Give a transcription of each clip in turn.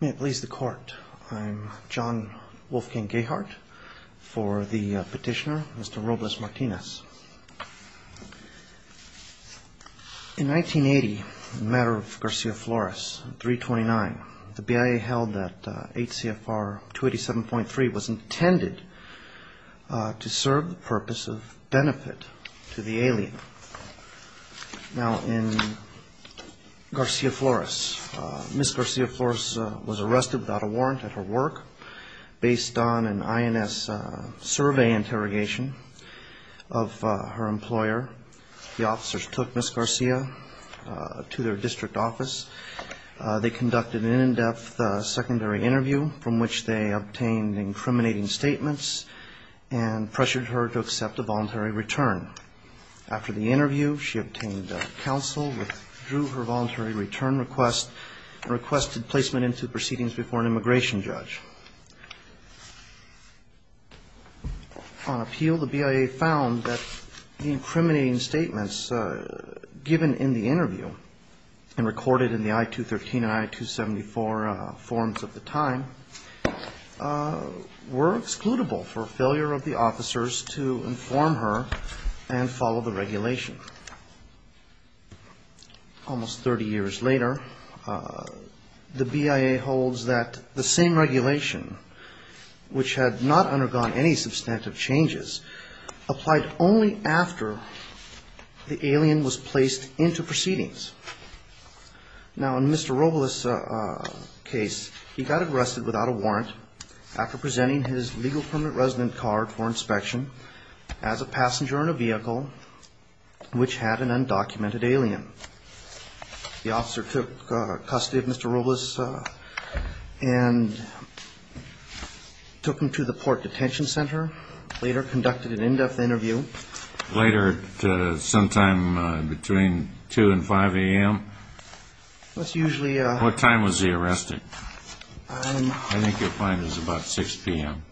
May it please the court, I'm John Wolfgang Gahart for the petitioner Mr. Robles Martinez. In 1980, the matter of Garcia Flores, 329, the BIA held that 8 CFR 287.3 was intended to serve the purpose of benefit to the alien. Now in Garcia Flores, Ms. Garcia Flores was arrested without a warrant at her work based on an INS survey interrogation of her employer. The officers took Ms. Garcia to their district office. They conducted an in-depth secondary interview from which they obtained incriminating statements and pressured her to accept a voluntary return. After the interview, she obtained counsel, withdrew her voluntary return request and requested placement into proceedings before an immigration judge. On appeal, the BIA found that the incriminating statements given in the interview and recorded in the I-213 and I-274 forms of the time were excludable for failure of the officers to inform her and follow the regulation. Almost 30 years later, the BIA holds that the same regulation, which had not undergone any substantive changes, applied only after the alien was placed into proceedings. Now in Mr. Robles' case, he got arrested without a warrant after presenting his legal permanent resident card for inspection as a passenger in a vehicle which had an undocumented alien. The officer took custody of Mr. Robles and took him to the port detention center, later conducted an in-depth interview. Later sometime between 2 and 5 a.m. What time was he arrested? I think you'll find it was about 6 p.m.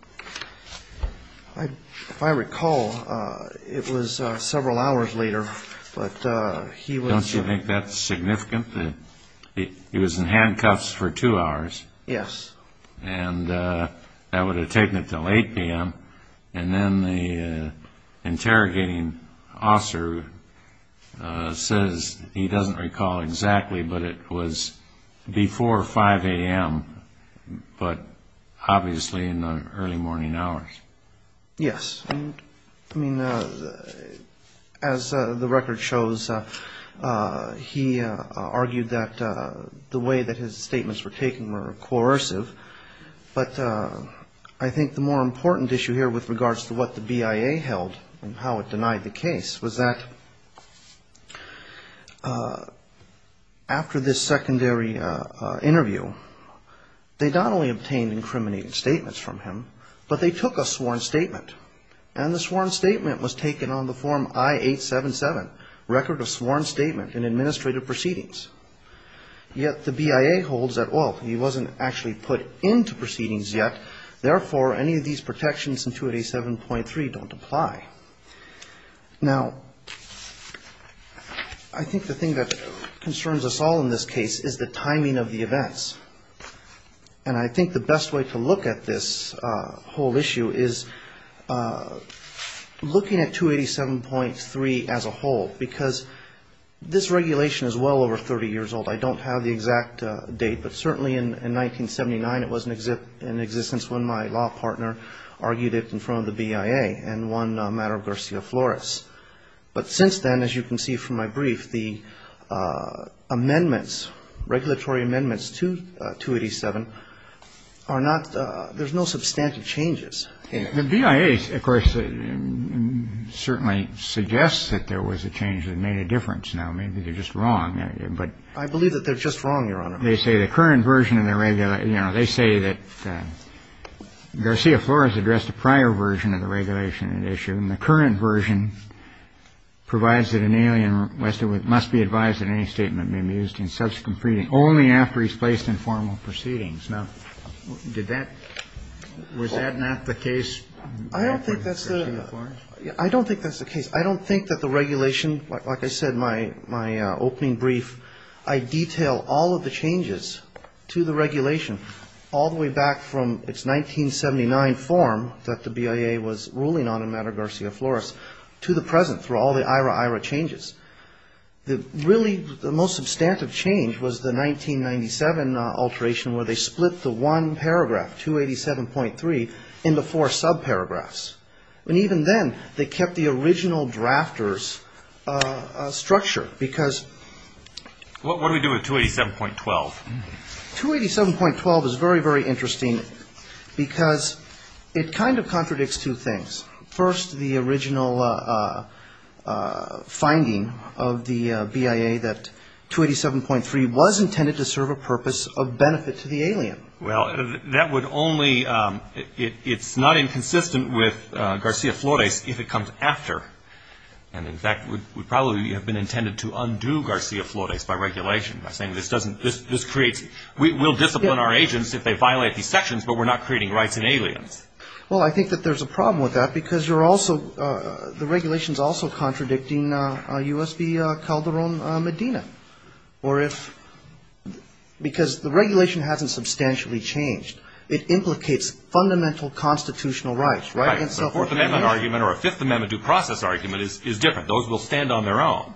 If I recall, it was several hours later. Don't you think that's significant? He was in handcuffs for two hours. Yes. And that would have taken until 8 p.m. And then the interrogating officer says he doesn't recall exactly, but it was before 5 a.m., but obviously in the early morning hours. Yes. I mean, as the record shows, he argued that the way that his statements were taken were coercive. But I think the more important issue here with regards to what the BIA held and how it denied the case was that after this secondary interview, they not only obtained incriminating statements from him, but they took a sworn statement. And the sworn statement was taken on the form I-877, Record of Sworn Statement in Administrative Proceedings. Yet the BIA holds that, well, he wasn't actually put into proceedings yet. Therefore, any of these protections in 287.3 don't apply. Now, I think the thing that concerns us all in this case is the timing of the events. And I think the best way to look at this whole issue is looking at 287.3 as a whole, because this regulation is well over 30 years old. I don't have the exact date, but certainly in 1979 it was in existence when my law partner argued it in front of the BIA and won a matter of Garcia-Flores. But since then, as you can see from my brief, the amendments, regulatory amendments to 287 are not – there's no substantive changes. The BIA, of course, certainly suggests that there was a change that made a difference. Now, maybe they're just wrong, but – I believe that they're just wrong, Your Honor. They say the current version of the – you know, they say that Garcia-Flores addressed a prior version of the regulation at issue, and the current version provides that an alien must be advised that any statement may be used in subsequent reading only after he's placed in formal proceedings. Now, did that – was that not the case? I don't think that's the – I don't think that's the case. I don't think that the regulation – like I said in my opening brief, I detail all of the changes to the regulation all the way back from its 1979 form that the BIA was ruling on in matter of Garcia-Flores to the present through all the IRA-IRA changes. Really, the most substantive change was the 1997 alteration where they split the one paragraph, 287.3, into four subparagraphs. And even then, they kept the original drafter's structure because – What do we do with 287.12? 287.12 is very, very interesting because it kind of contradicts two things. First, the original finding of the BIA that 287.3 was intended to serve a purpose of benefit to the alien. Well, that would only – it's not inconsistent with Garcia-Flores if it comes after. And in fact, it would probably have been intended to undo Garcia-Flores by regulation, by saying this doesn't – this creates – we'll discipline our agents if they violate these sections, but we're not creating rights in aliens. Well, I think that there's a problem with that because you're also – the regulation is also contradicting U.S. v. Calderon-Medina. Or if – because the regulation hasn't substantially changed. It implicates fundamental constitutional rights, right? Right. So a Fourth Amendment argument or a Fifth Amendment due process argument is different. Those will stand on their own.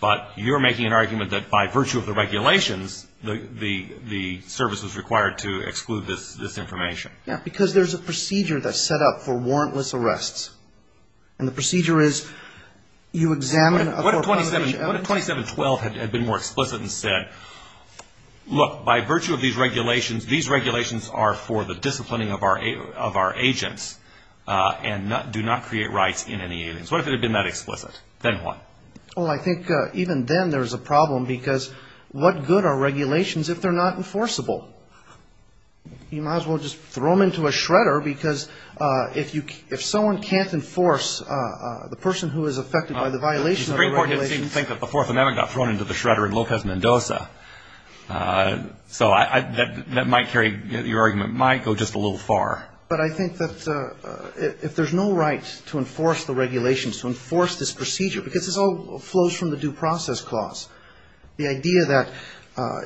But you're making an argument that by virtue of the regulations, the service was required to exclude this information. Yeah, because there's a procedure that's set up for warrantless arrests. And the procedure is you examine a – What if 27 – what if 27.12 had been more explicit and said, Look, by virtue of these regulations, these regulations are for the disciplining of our agents and do not create rights in any aliens. What if it had been that explicit? Then what? Well, I think even then there's a problem because what good are regulations if they're not enforceable? You might as well just throw them into a shredder because if you – if someone can't enforce the person who is affected by the violation of the regulations – So that might carry – your argument might go just a little far. But I think that if there's no right to enforce the regulations, to enforce this procedure, because this all flows from the due process clause, the idea that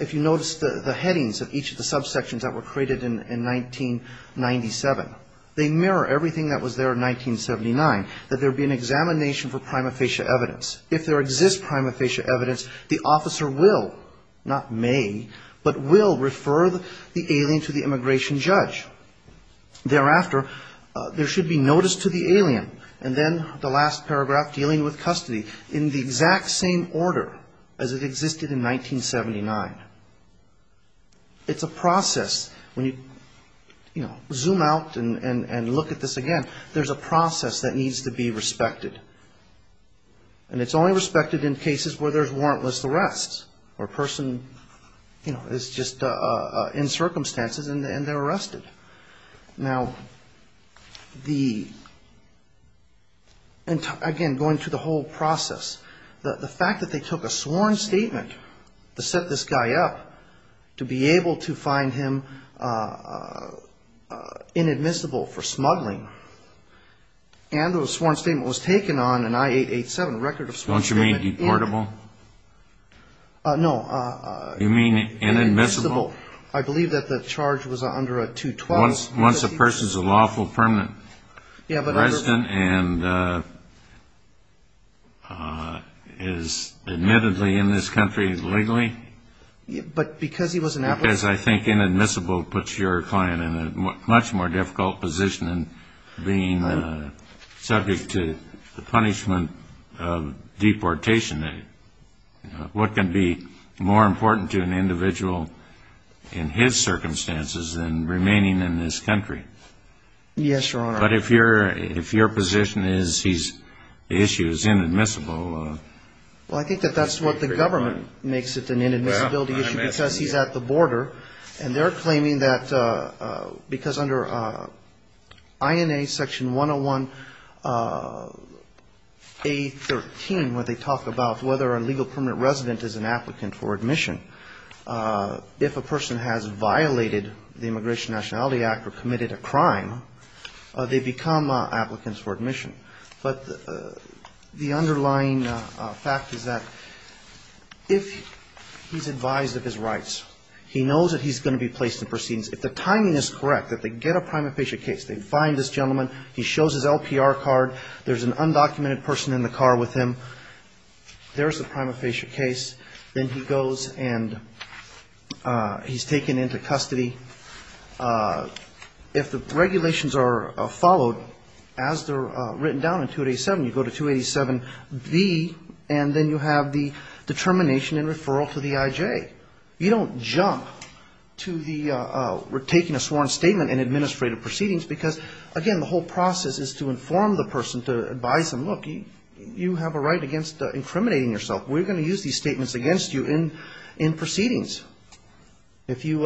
if you notice the headings of each of the subsections that were created in 1997, they mirror everything that was there in 1979, that there would be an examination for prima facie evidence. If there exists prima facie evidence, the officer will, not may, but will refer the alien to the immigration judge. Thereafter, there should be notice to the alien. And then the last paragraph, dealing with custody, in the exact same order as it existed in 1979. It's a process. When you, you know, zoom out and look at this again, there's a process that needs to be respected. And it's only respected in cases where there's warrantless arrests, where a person, you know, is just in circumstances and they're arrested. Now, the – again, going through the whole process, the fact that they took a sworn statement to set this guy up to be able to find him inadmissible for smuggling, and the sworn statement was taken on an I-887 record of sworn statement. Don't you mean deportable? No. You mean inadmissible? I believe that the charge was under a 212. Once a person's a lawful permanent resident and is admittedly in this country legally? But because he was an applicant. Because I think inadmissible puts your client in a much more difficult position than being subject to the punishment of deportation. What can be more important to an individual in his circumstances than remaining in this country? Yes, Your Honor. But if your position is the issue is inadmissible. Well, I think that that's what the government makes it an inadmissibility issue because he's at the border. And they're claiming that because under INA section 101A13, where they talk about whether a legal permanent resident is an applicant for admission, if a person has violated the Immigration and Nationality Act or committed a crime, they become applicants for admission. But the underlying fact is that if he's advised of his rights, he knows that he's going to be placed in proceedings. If the timing is correct, that they get a prima facie case, they find this gentleman, he shows his LPR card, there's an undocumented person in the car with him, there's the prima facie case. Then he goes and he's taken into custody. If the regulations are followed as they're written down in 287, you go to 287B and then you have the determination and referral to the IJ. You don't jump to the we're taking a sworn statement in administrative proceedings because, again, the whole process is to inform the person, to advise them, look, you have a right against incriminating yourself. We're going to use these statements against you in proceedings. If you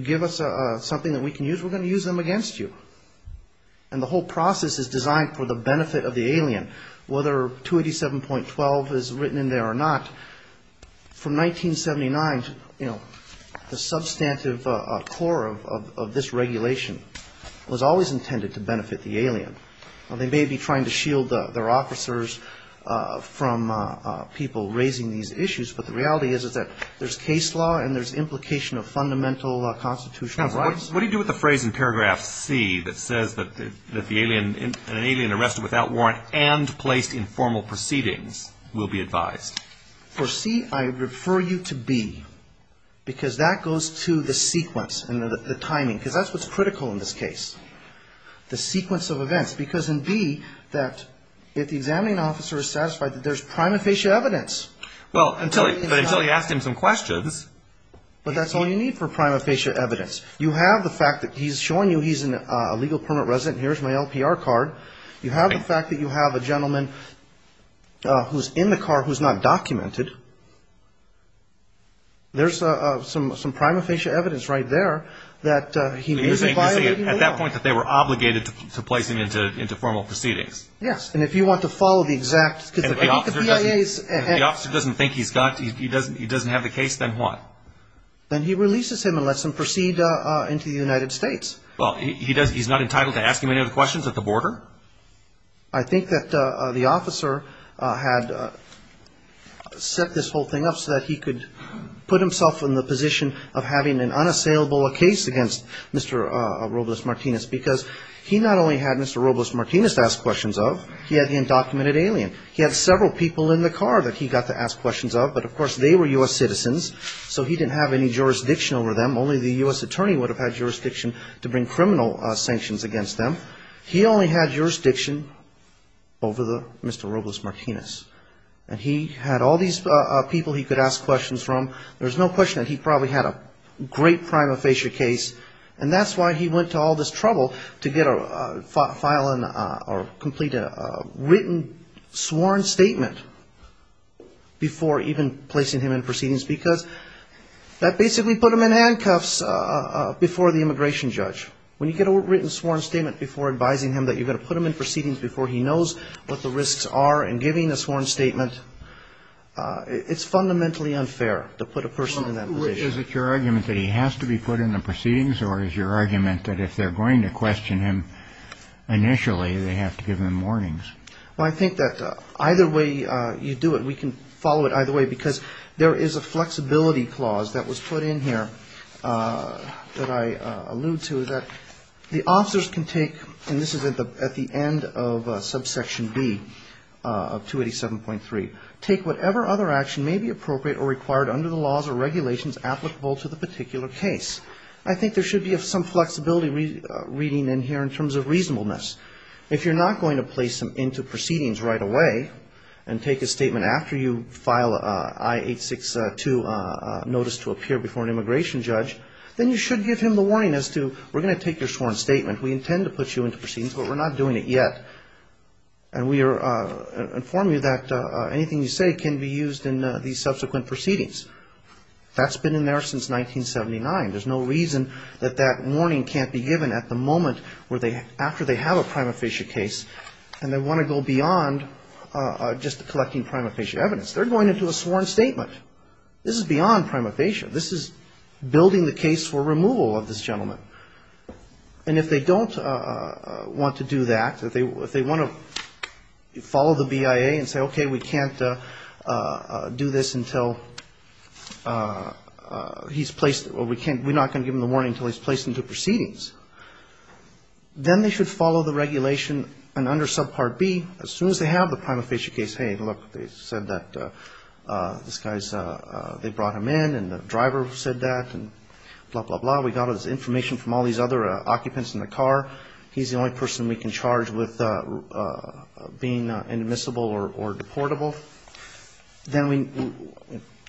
give us something that we can use, we're going to use them against you. And the whole process is designed for the benefit of the alien, whether 287.12 is written in there or not. From 1979, you know, the substantive core of this regulation was always intended to benefit the alien. They may be trying to shield their officers from people raising these issues, but the reality is that there's case law and there's implication of fundamental constitutional rights. What do you do with the phrase in paragraph C that says that the alien, an alien arrested without warrant and placed in formal proceedings will be advised? For C, I refer you to B, because that goes to the sequence and the timing, because that's what's critical in this case. The sequence of events, because in B, that if the examining officer is satisfied that there's prima facie evidence. Well, until you ask him some questions. But that's all you need for prima facie evidence. You have the fact that he's showing you he's a legal permanent resident, here's my LPR card. You have the fact that you have a gentleman who's in the car who's not documented. There's some prima facie evidence right there that he may be violating the law. You're saying at that point that they were obligated to place him into formal proceedings. Yes, and if you want to follow the exact... If the officer doesn't think he's got, he doesn't have the case, then what? Then he releases him and lets him proceed into the United States. Well, he's not entitled to ask him any of the questions at the border? I think that the officer had set this whole thing up so that he could put himself in the position of having an unassailable case against Mr. Robles-Martinez, because he not only had Mr. Robles-Martinez to ask questions of, he had the undocumented alien. He had several people in the car that he got to ask questions of, but, of course, they were U.S. citizens, so he didn't have any jurisdiction over them, only the U.S. attorney would have had jurisdiction to bring criminal sanctions against them. He only had jurisdiction over Mr. Robles-Martinez, and he had all these people he could ask questions from. There's no question that he probably had a great prima facie case, and that's why he went to all this trouble to get a file, or complete a written sworn statement before even placing him in proceedings, because he didn't have any jurisdiction. Because that basically put him in handcuffs before the immigration judge. When you get a written sworn statement before advising him that you're going to put him in proceedings before he knows what the risks are in giving a sworn statement, it's fundamentally unfair to put a person in that position. Is it your argument that he has to be put in the proceedings, or is your argument that if they're going to question him initially, they have to give him warnings? Well, I think that either way you do it, we can follow it either way, because there is a flexibility clause that was put in here that I allude to, that the officers can take, and this is at the end of subsection B of 287.3, take whatever other action may be appropriate or required under the laws or regulations applicable to the particular case. I think there should be some flexibility reading in here in terms of reasonableness. If you're going to put him into proceedings right away and take a statement after you file I-862 notice to appear before an immigration judge, then you should give him the warning as to we're going to take your sworn statement, we intend to put you into proceedings, but we're not doing it yet. And we are informing you that anything you say can be used in these subsequent proceedings. That's been in there since 1979. There's no reason that that warning can't be given at the moment after they have a prima facie case, and they want to go beyond just collecting prima facie evidence. They're going into a sworn statement. This is beyond prima facie. This is building the case for removal of this gentleman. And if they don't want to do that, if they want to follow the BIA and say, okay, we can't do this until he's placed or we can't, we're not going to give him the warning until he's placed into proceedings, then they should follow the regulation. And under subpart B, as soon as they have the prima facie case, hey, look, they said that this guy's, they brought him in and the driver said that and blah, blah, blah. We got his information from all these other occupants in the car. He's the only person we can charge with being inadmissible or deportable. Then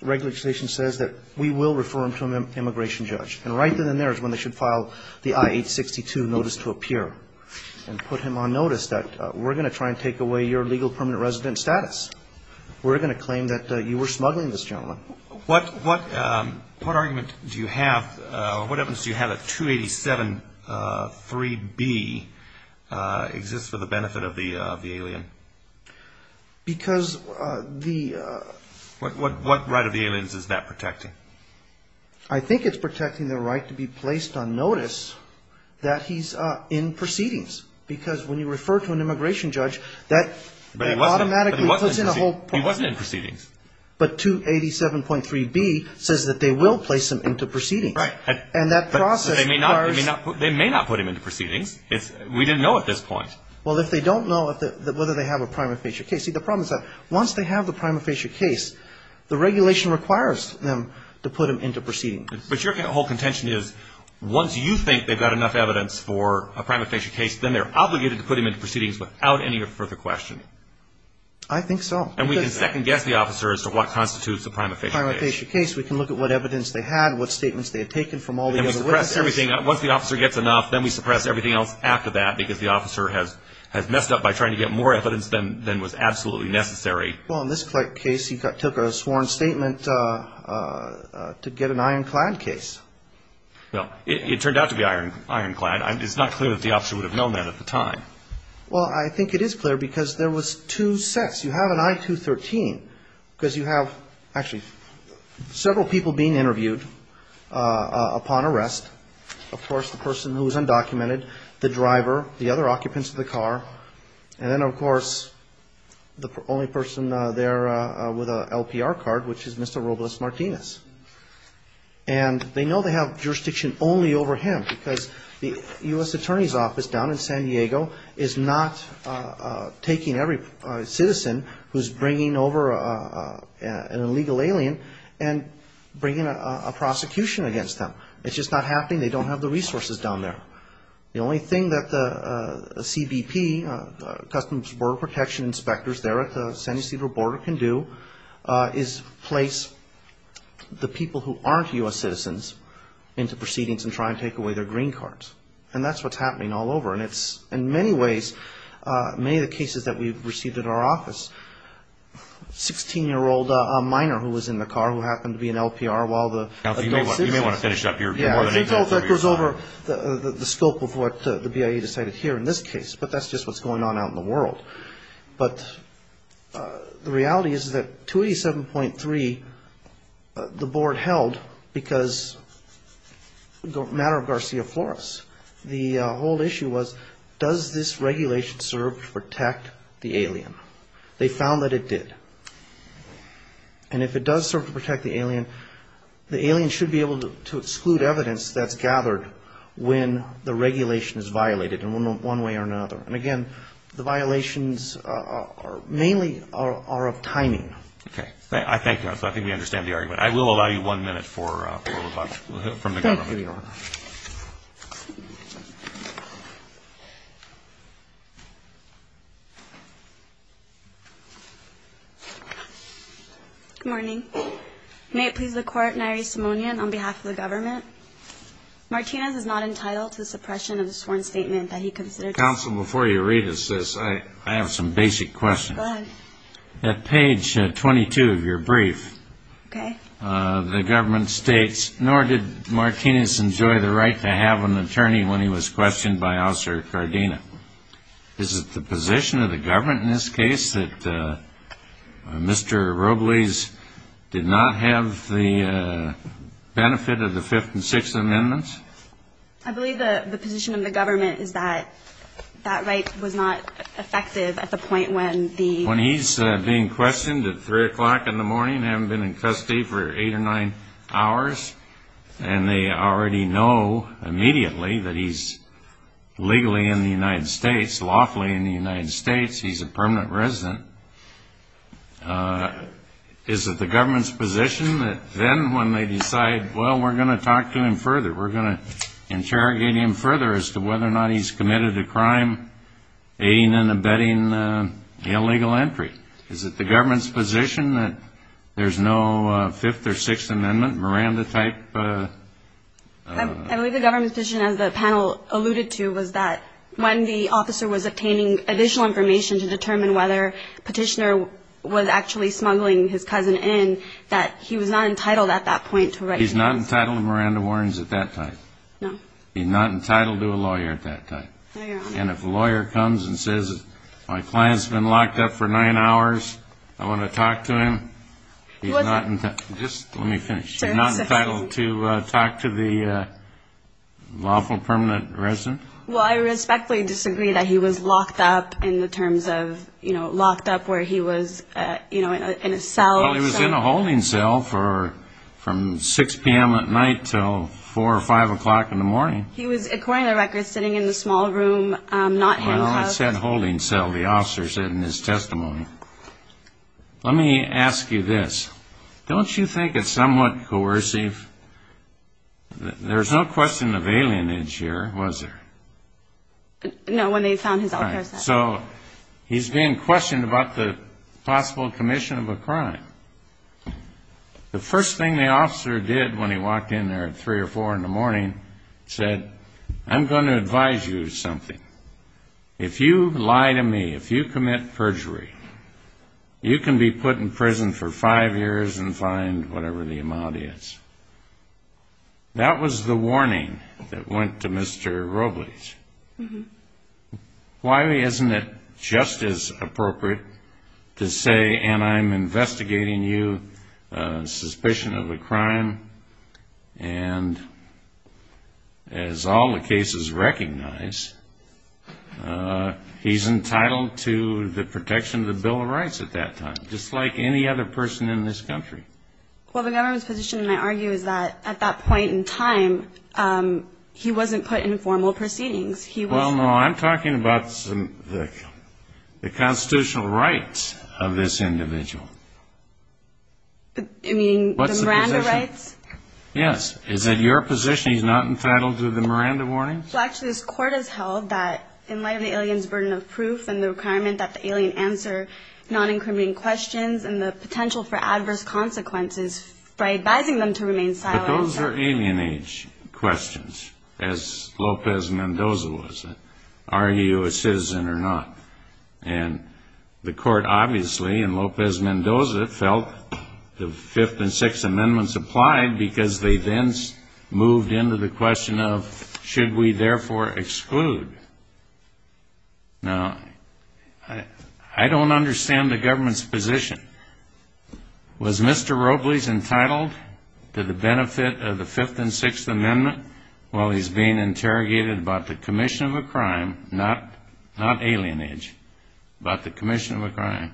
regulation says that we will refer him to an immigration judge. And right then and there is when they should file the I-862 notice to appear and put him on notice that we're going to try and take away your legal permanent resident status. We're going to claim that you were smuggling this gentleman. What argument do you have, what evidence do you have that 287.3b exists for the benefit of the alien? What right of the aliens is that protecting? I think it's protecting the right to be placed on notice that he's in proceedings. Because when you refer to an immigration judge, that automatically puts in a whole point. But he wasn't in proceedings. But 287.3b says that they will place him into proceedings. Right. And that process requires. They may not put him into proceedings. We didn't know at this point. Well, if they don't know whether they have a prima facie case. See, the problem is that once they have the prima facie case, the regulation requires them to put him into proceedings. But your whole contention is once you think they've got enough evidence for a prima facie case, then they're obligated to put him into proceedings without any further question. I think so. And we can second guess the officer as to what constitutes a prima facie case. We can look at what evidence they had, what statements they had taken from all the other witnesses. Once the officer gets enough, then we suppress everything else after that. Because the officer has messed up by trying to get more evidence than was absolutely necessary. Well, in this case, he took a sworn statement to get an ironclad case. Well, it turned out to be ironclad. It's not clear that the officer would have known that at the time. Well, I think it is clear because there was two sets. You have an I-213 because you have actually several people being interviewed upon arrest. Of course, the person who was undocumented, the driver, the other occupants of the car. And then, of course, the only person there with an LPR card, which is Mr. Robles Martinez. And they know they have jurisdiction only over him because the U.S. Attorney's Office down in San Diego is not taking every citizen who's bringing over an illegal alien and bringing a prosecution against them. It's just not happening. They don't have the resources down there. The only thing that the CBP, Customs and Border Protection inspectors there at the San Ysidro border can do is place the people who aren't U.S. citizens into proceedings and try and take away their green cards. And that's what's happening all over. And it's, in many ways, many of the cases that we've received at our office, 16-year-old, a minor who was in the car who happened to be an LPR while the adult citizen... Counsel, you may want to finish up your... Yeah, I think that goes over the scope of what the BIA decided here in this case. But that's just what's going on out in the world. But the reality is that 287.3, the board held because it was a matter of Garcia Flores, the whole issue was does this regulation serve to protect the alien? They found that it did. And if it does serve to protect the alien, the alien should be able to exclude evidence that's gathered when the regulation is violated in one way or another. And again, the violations mainly are of timing. Okay. I thank you. I think we understand the argument. I will allow you one minute from the government. Thank you, Your Honor. Good morning. May it please the Court. Nyree Simonian on behalf of the government. Martinez is not entitled to the suppression of the sworn statement that he considered... Counsel, before you read us this, I have some basic questions. At page 22 of your brief, the government states, nor did Martinez enjoy the right to have an attorney when he was questioned by Officer Cardina. Is it the position of the government in this case that Mr. Robles did not have the benefit of the Fifth and Sixth Amendments? I believe the position of the government is that that right was not effective at the point when the... When he's being questioned at 3 o'clock in the morning, having been in custody for 8 or 9 hours, and they already know immediately that he's legally in the United States, lawfully in the United States, he's a permanent resident, is it the government's position that then when they decide, well, we're going to talk to him further, we're going to interrogate him further as to whether or not he's committed a crime, aiding and abetting illegal entry? Is it the government's position that there's no Fifth or Sixth Amendment, Miranda-type... I believe the government's position, as the panel alluded to, was that when the officer was obtaining additional information to determine whether Petitioner was actually smuggling his cousin in, that he was not entitled at that point to write... He's not entitled to Miranda warrants at that time? No. He's not entitled to a lawyer at that time? No, Your Honor. And if a lawyer comes and says, my client's been locked up for 9 hours, I want to talk to him, he's not... Just let me finish. He's not entitled to talk to the lawful permanent resident? Well, I respectfully disagree that he was locked up in the terms of, you know, locked up where he was, you know, in a cell... Well, he was in a holding cell from 6 p.m. at night until 4 or 5 o'clock in the morning. He was, according to the record, sitting in a small room, not handcuffed... Well, I said holding cell. The officer said in his testimony. Let me ask you this. Don't you think it's somewhat coercive... There's no question of alienage here, was there? No, when they found his... So, he's being questioned about the possible commission of a crime. The first thing the officer did when he walked in there at 3 or 4 in the morning said, I'm going to advise you of something. If you lie to me, if you commit perjury, you can be put in prison for 5 years and fined whatever the amount is. That was the warning that went to Mr. Robles. Why isn't it just as appropriate to say, and I'm investigating you, suspicion of a crime, and as all the cases recognize, he's entitled to the protection of the Bill of Rights at that time, just like any other person in this country. Well, the government's position, I argue, is that at that point in time, he wasn't put in formal proceedings. He was... Well, no, I'm talking about the constitutional rights of this individual. What's the position? Yes, is it your position he's not entitled to the Miranda warnings? Well, actually, this court has held that in light of the alien's burden of proof and the requirement that the alien answer non-incriminating questions and the potential for adverse consequences by advising them to remain silent... But those are alien age questions, as Lopez Mendoza was. Are you a citizen or not? And the court obviously, in Lopez Mendoza, felt the Fifth and Sixth Amendments applied because they then moved into the question of, should we therefore exclude? Now, I don't understand the government's position. Was Mr. Robles entitled to the benefit of the Fifth and Sixth Amendment while he's being interrogated about the commission of a crime, not alien age, but the commission of a crime,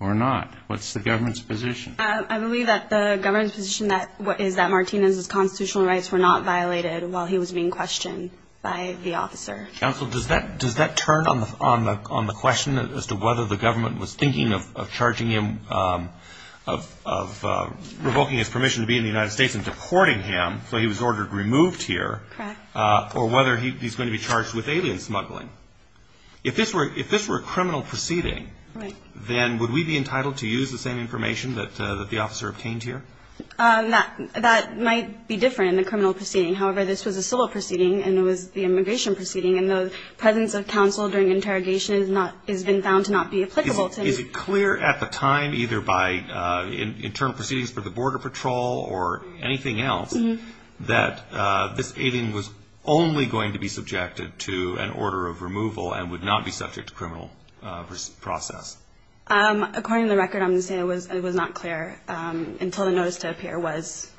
or not? What's the government's position? I believe that the government's position is that Martinez's constitutional rights were not violated while he was being questioned by the officer. Counsel, does that turn on the question as to whether the government was thinking of charging him, of revoking his permission to be in the United States and deporting him, so he was ordered removed here, or whether he's going to be charged with alien smuggling? If this were a criminal proceeding, then would we be entitled to use the same information that the officer obtained here? That might be different in the criminal proceeding. However, this was a civil proceeding, and it was the immigration proceeding, and the presence of counsel during interrogation has been found to not be applicable to... Is it clear at the time, either by internal proceedings for the Border Patrol or anything else, that this alien was only going to be subjected to an order of removal and would not be subject to criminal process? According to the record, I'm going to say it was not clear until the notice to appear was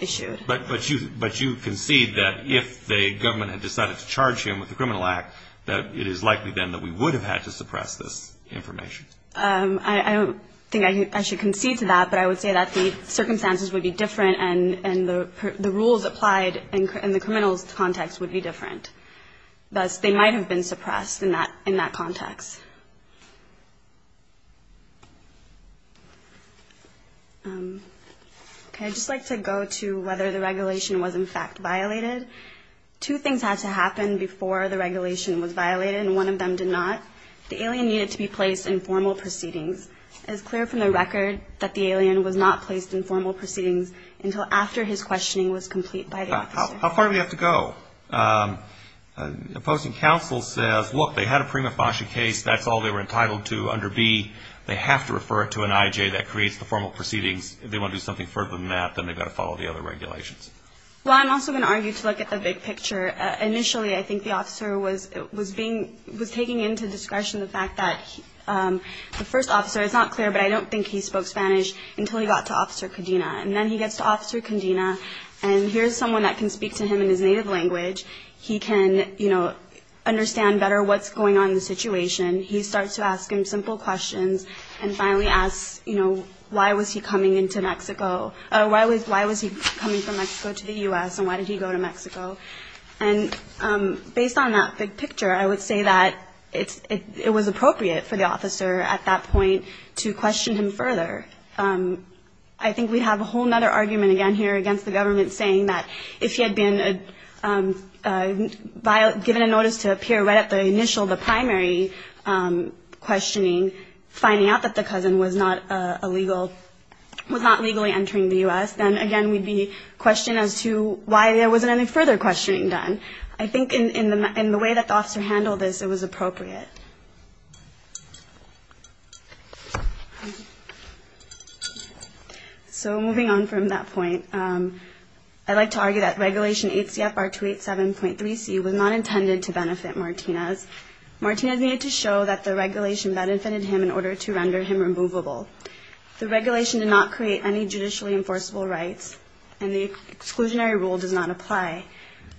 issued. But you concede that if the government had decided to charge him with a criminal act, that it is likely then that we would have had to suppress this information. I don't think I should concede to that, but I would say that the rules applied in the criminal context would be different. Thus, they might have been suppressed in that context. Okay, I'd just like to go to whether the regulation was in fact violated. Two things had to happen before the regulation was violated, and one of them did not. The alien needed to be placed in formal proceedings. It is clear from the record that the alien was not placed in formal proceedings, and the questioning was complete by the officer. How far do we have to go? The opposing counsel says, look, they had a prima facie case. That's all they were entitled to under B. They have to refer it to an I.J. that creates the formal proceedings. If they want to do something further than that, then they've got to follow the other regulations. Well, I'm also going to argue to look at the big picture. Initially, I think the officer was taking into discretion the fact that the first officer was not clear, but I don't think he spoke Spanish until he got to Officer Condena. And then he gets to Officer Condena, and here's someone that can speak to him in his native language. He can, you know, understand better what's going on in the situation. He starts to ask him simple questions and finally asks, you know, why was he coming into Mexico? Why was he coming from Mexico to the U.S., and why did he go to Mexico? And based on that big picture, I would say that it was appropriate for the officer at that point to question him further. I think we have a whole other argument again here against the government saying that if he had been given a notice to appear right at the initial, the primary questioning, finding out that the cousin was not a legal, was not legally entering the U.S., then again, we'd be questioning as to why there wasn't any further questioning done. I think in the way that the officer handled this, it was appropriate. So moving on from that point, I'd like to argue that Regulation 8 CFR 287.3C was not intended to benefit Martinez. Martinez needed to show that the regulation benefited him in order to render him removable. The regulation did not create any judicially enforceable rights, and the exclusionary rule does not apply.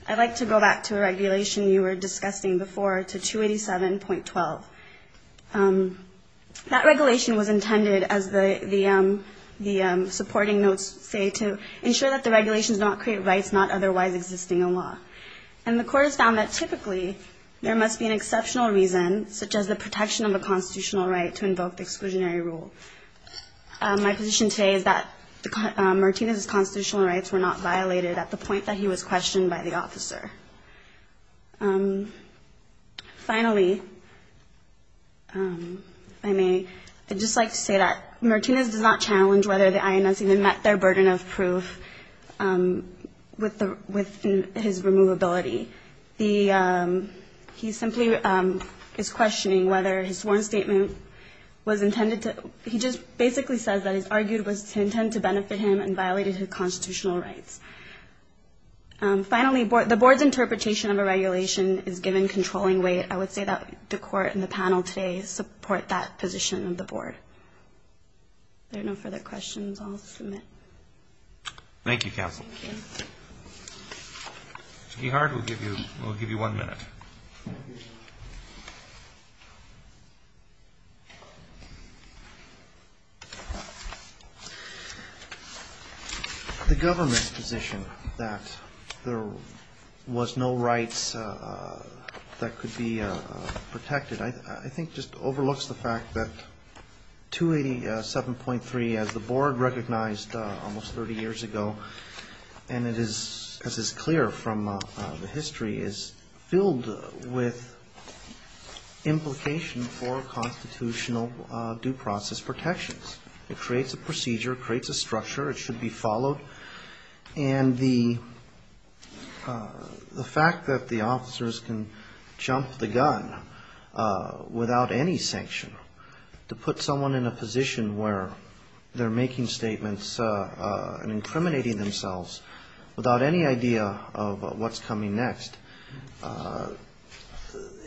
I'd like to go back to a regulation you were discussing before to 287.12. That regulation was intended, as the supporting notes say, to ensure that the regulations do not create rights not otherwise existing in law. And the court has found that typically there must be an exceptional reason, such as the protection of a constitutional right to invoke the exclusionary rule. My position today is that Martinez's constitutional rights were not violated at the point that he was questioned by the court. Finally, if I may, I'd just like to say that Martinez does not challenge whether the INS even met their burden of proof with his removability. He simply is questioning whether his sworn statement was intended to, he just basically says that his argument was to intend to benefit him and violated his constitutional rights. Finally, the board's interpretation of a regulation is given controlling weight. I would say that the court and the panel today support that position of the board. If there are no further questions, I'll submit. Thank you, counsel. Mr. Gehard, we'll give you one minute. The government's position that there was no rights that could be protected, I think just overlooks the fact that 287.3 as the board recognized almost 30 years ago and it is, as is clear from the history, is filled with a lot of confusion. It's filled with implication for constitutional due process protections. It creates a procedure, creates a structure, it should be followed, and the fact that the officers can jump the gun without any sanction, to put someone in a position where they're making statements and incriminating themselves without any idea of what's coming next,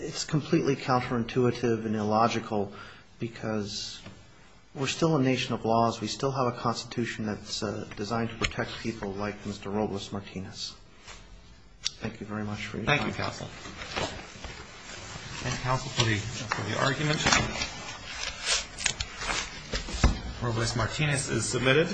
it's completely counterintuitive and illogical because we're still a nation of laws. We still have a constitution that's designed to protect people like Mr. Robles-Martinez. Thank you very much for your time. Thank you, counsel. Thank you, counsel, for the argument. Robles-Martinez is submitted.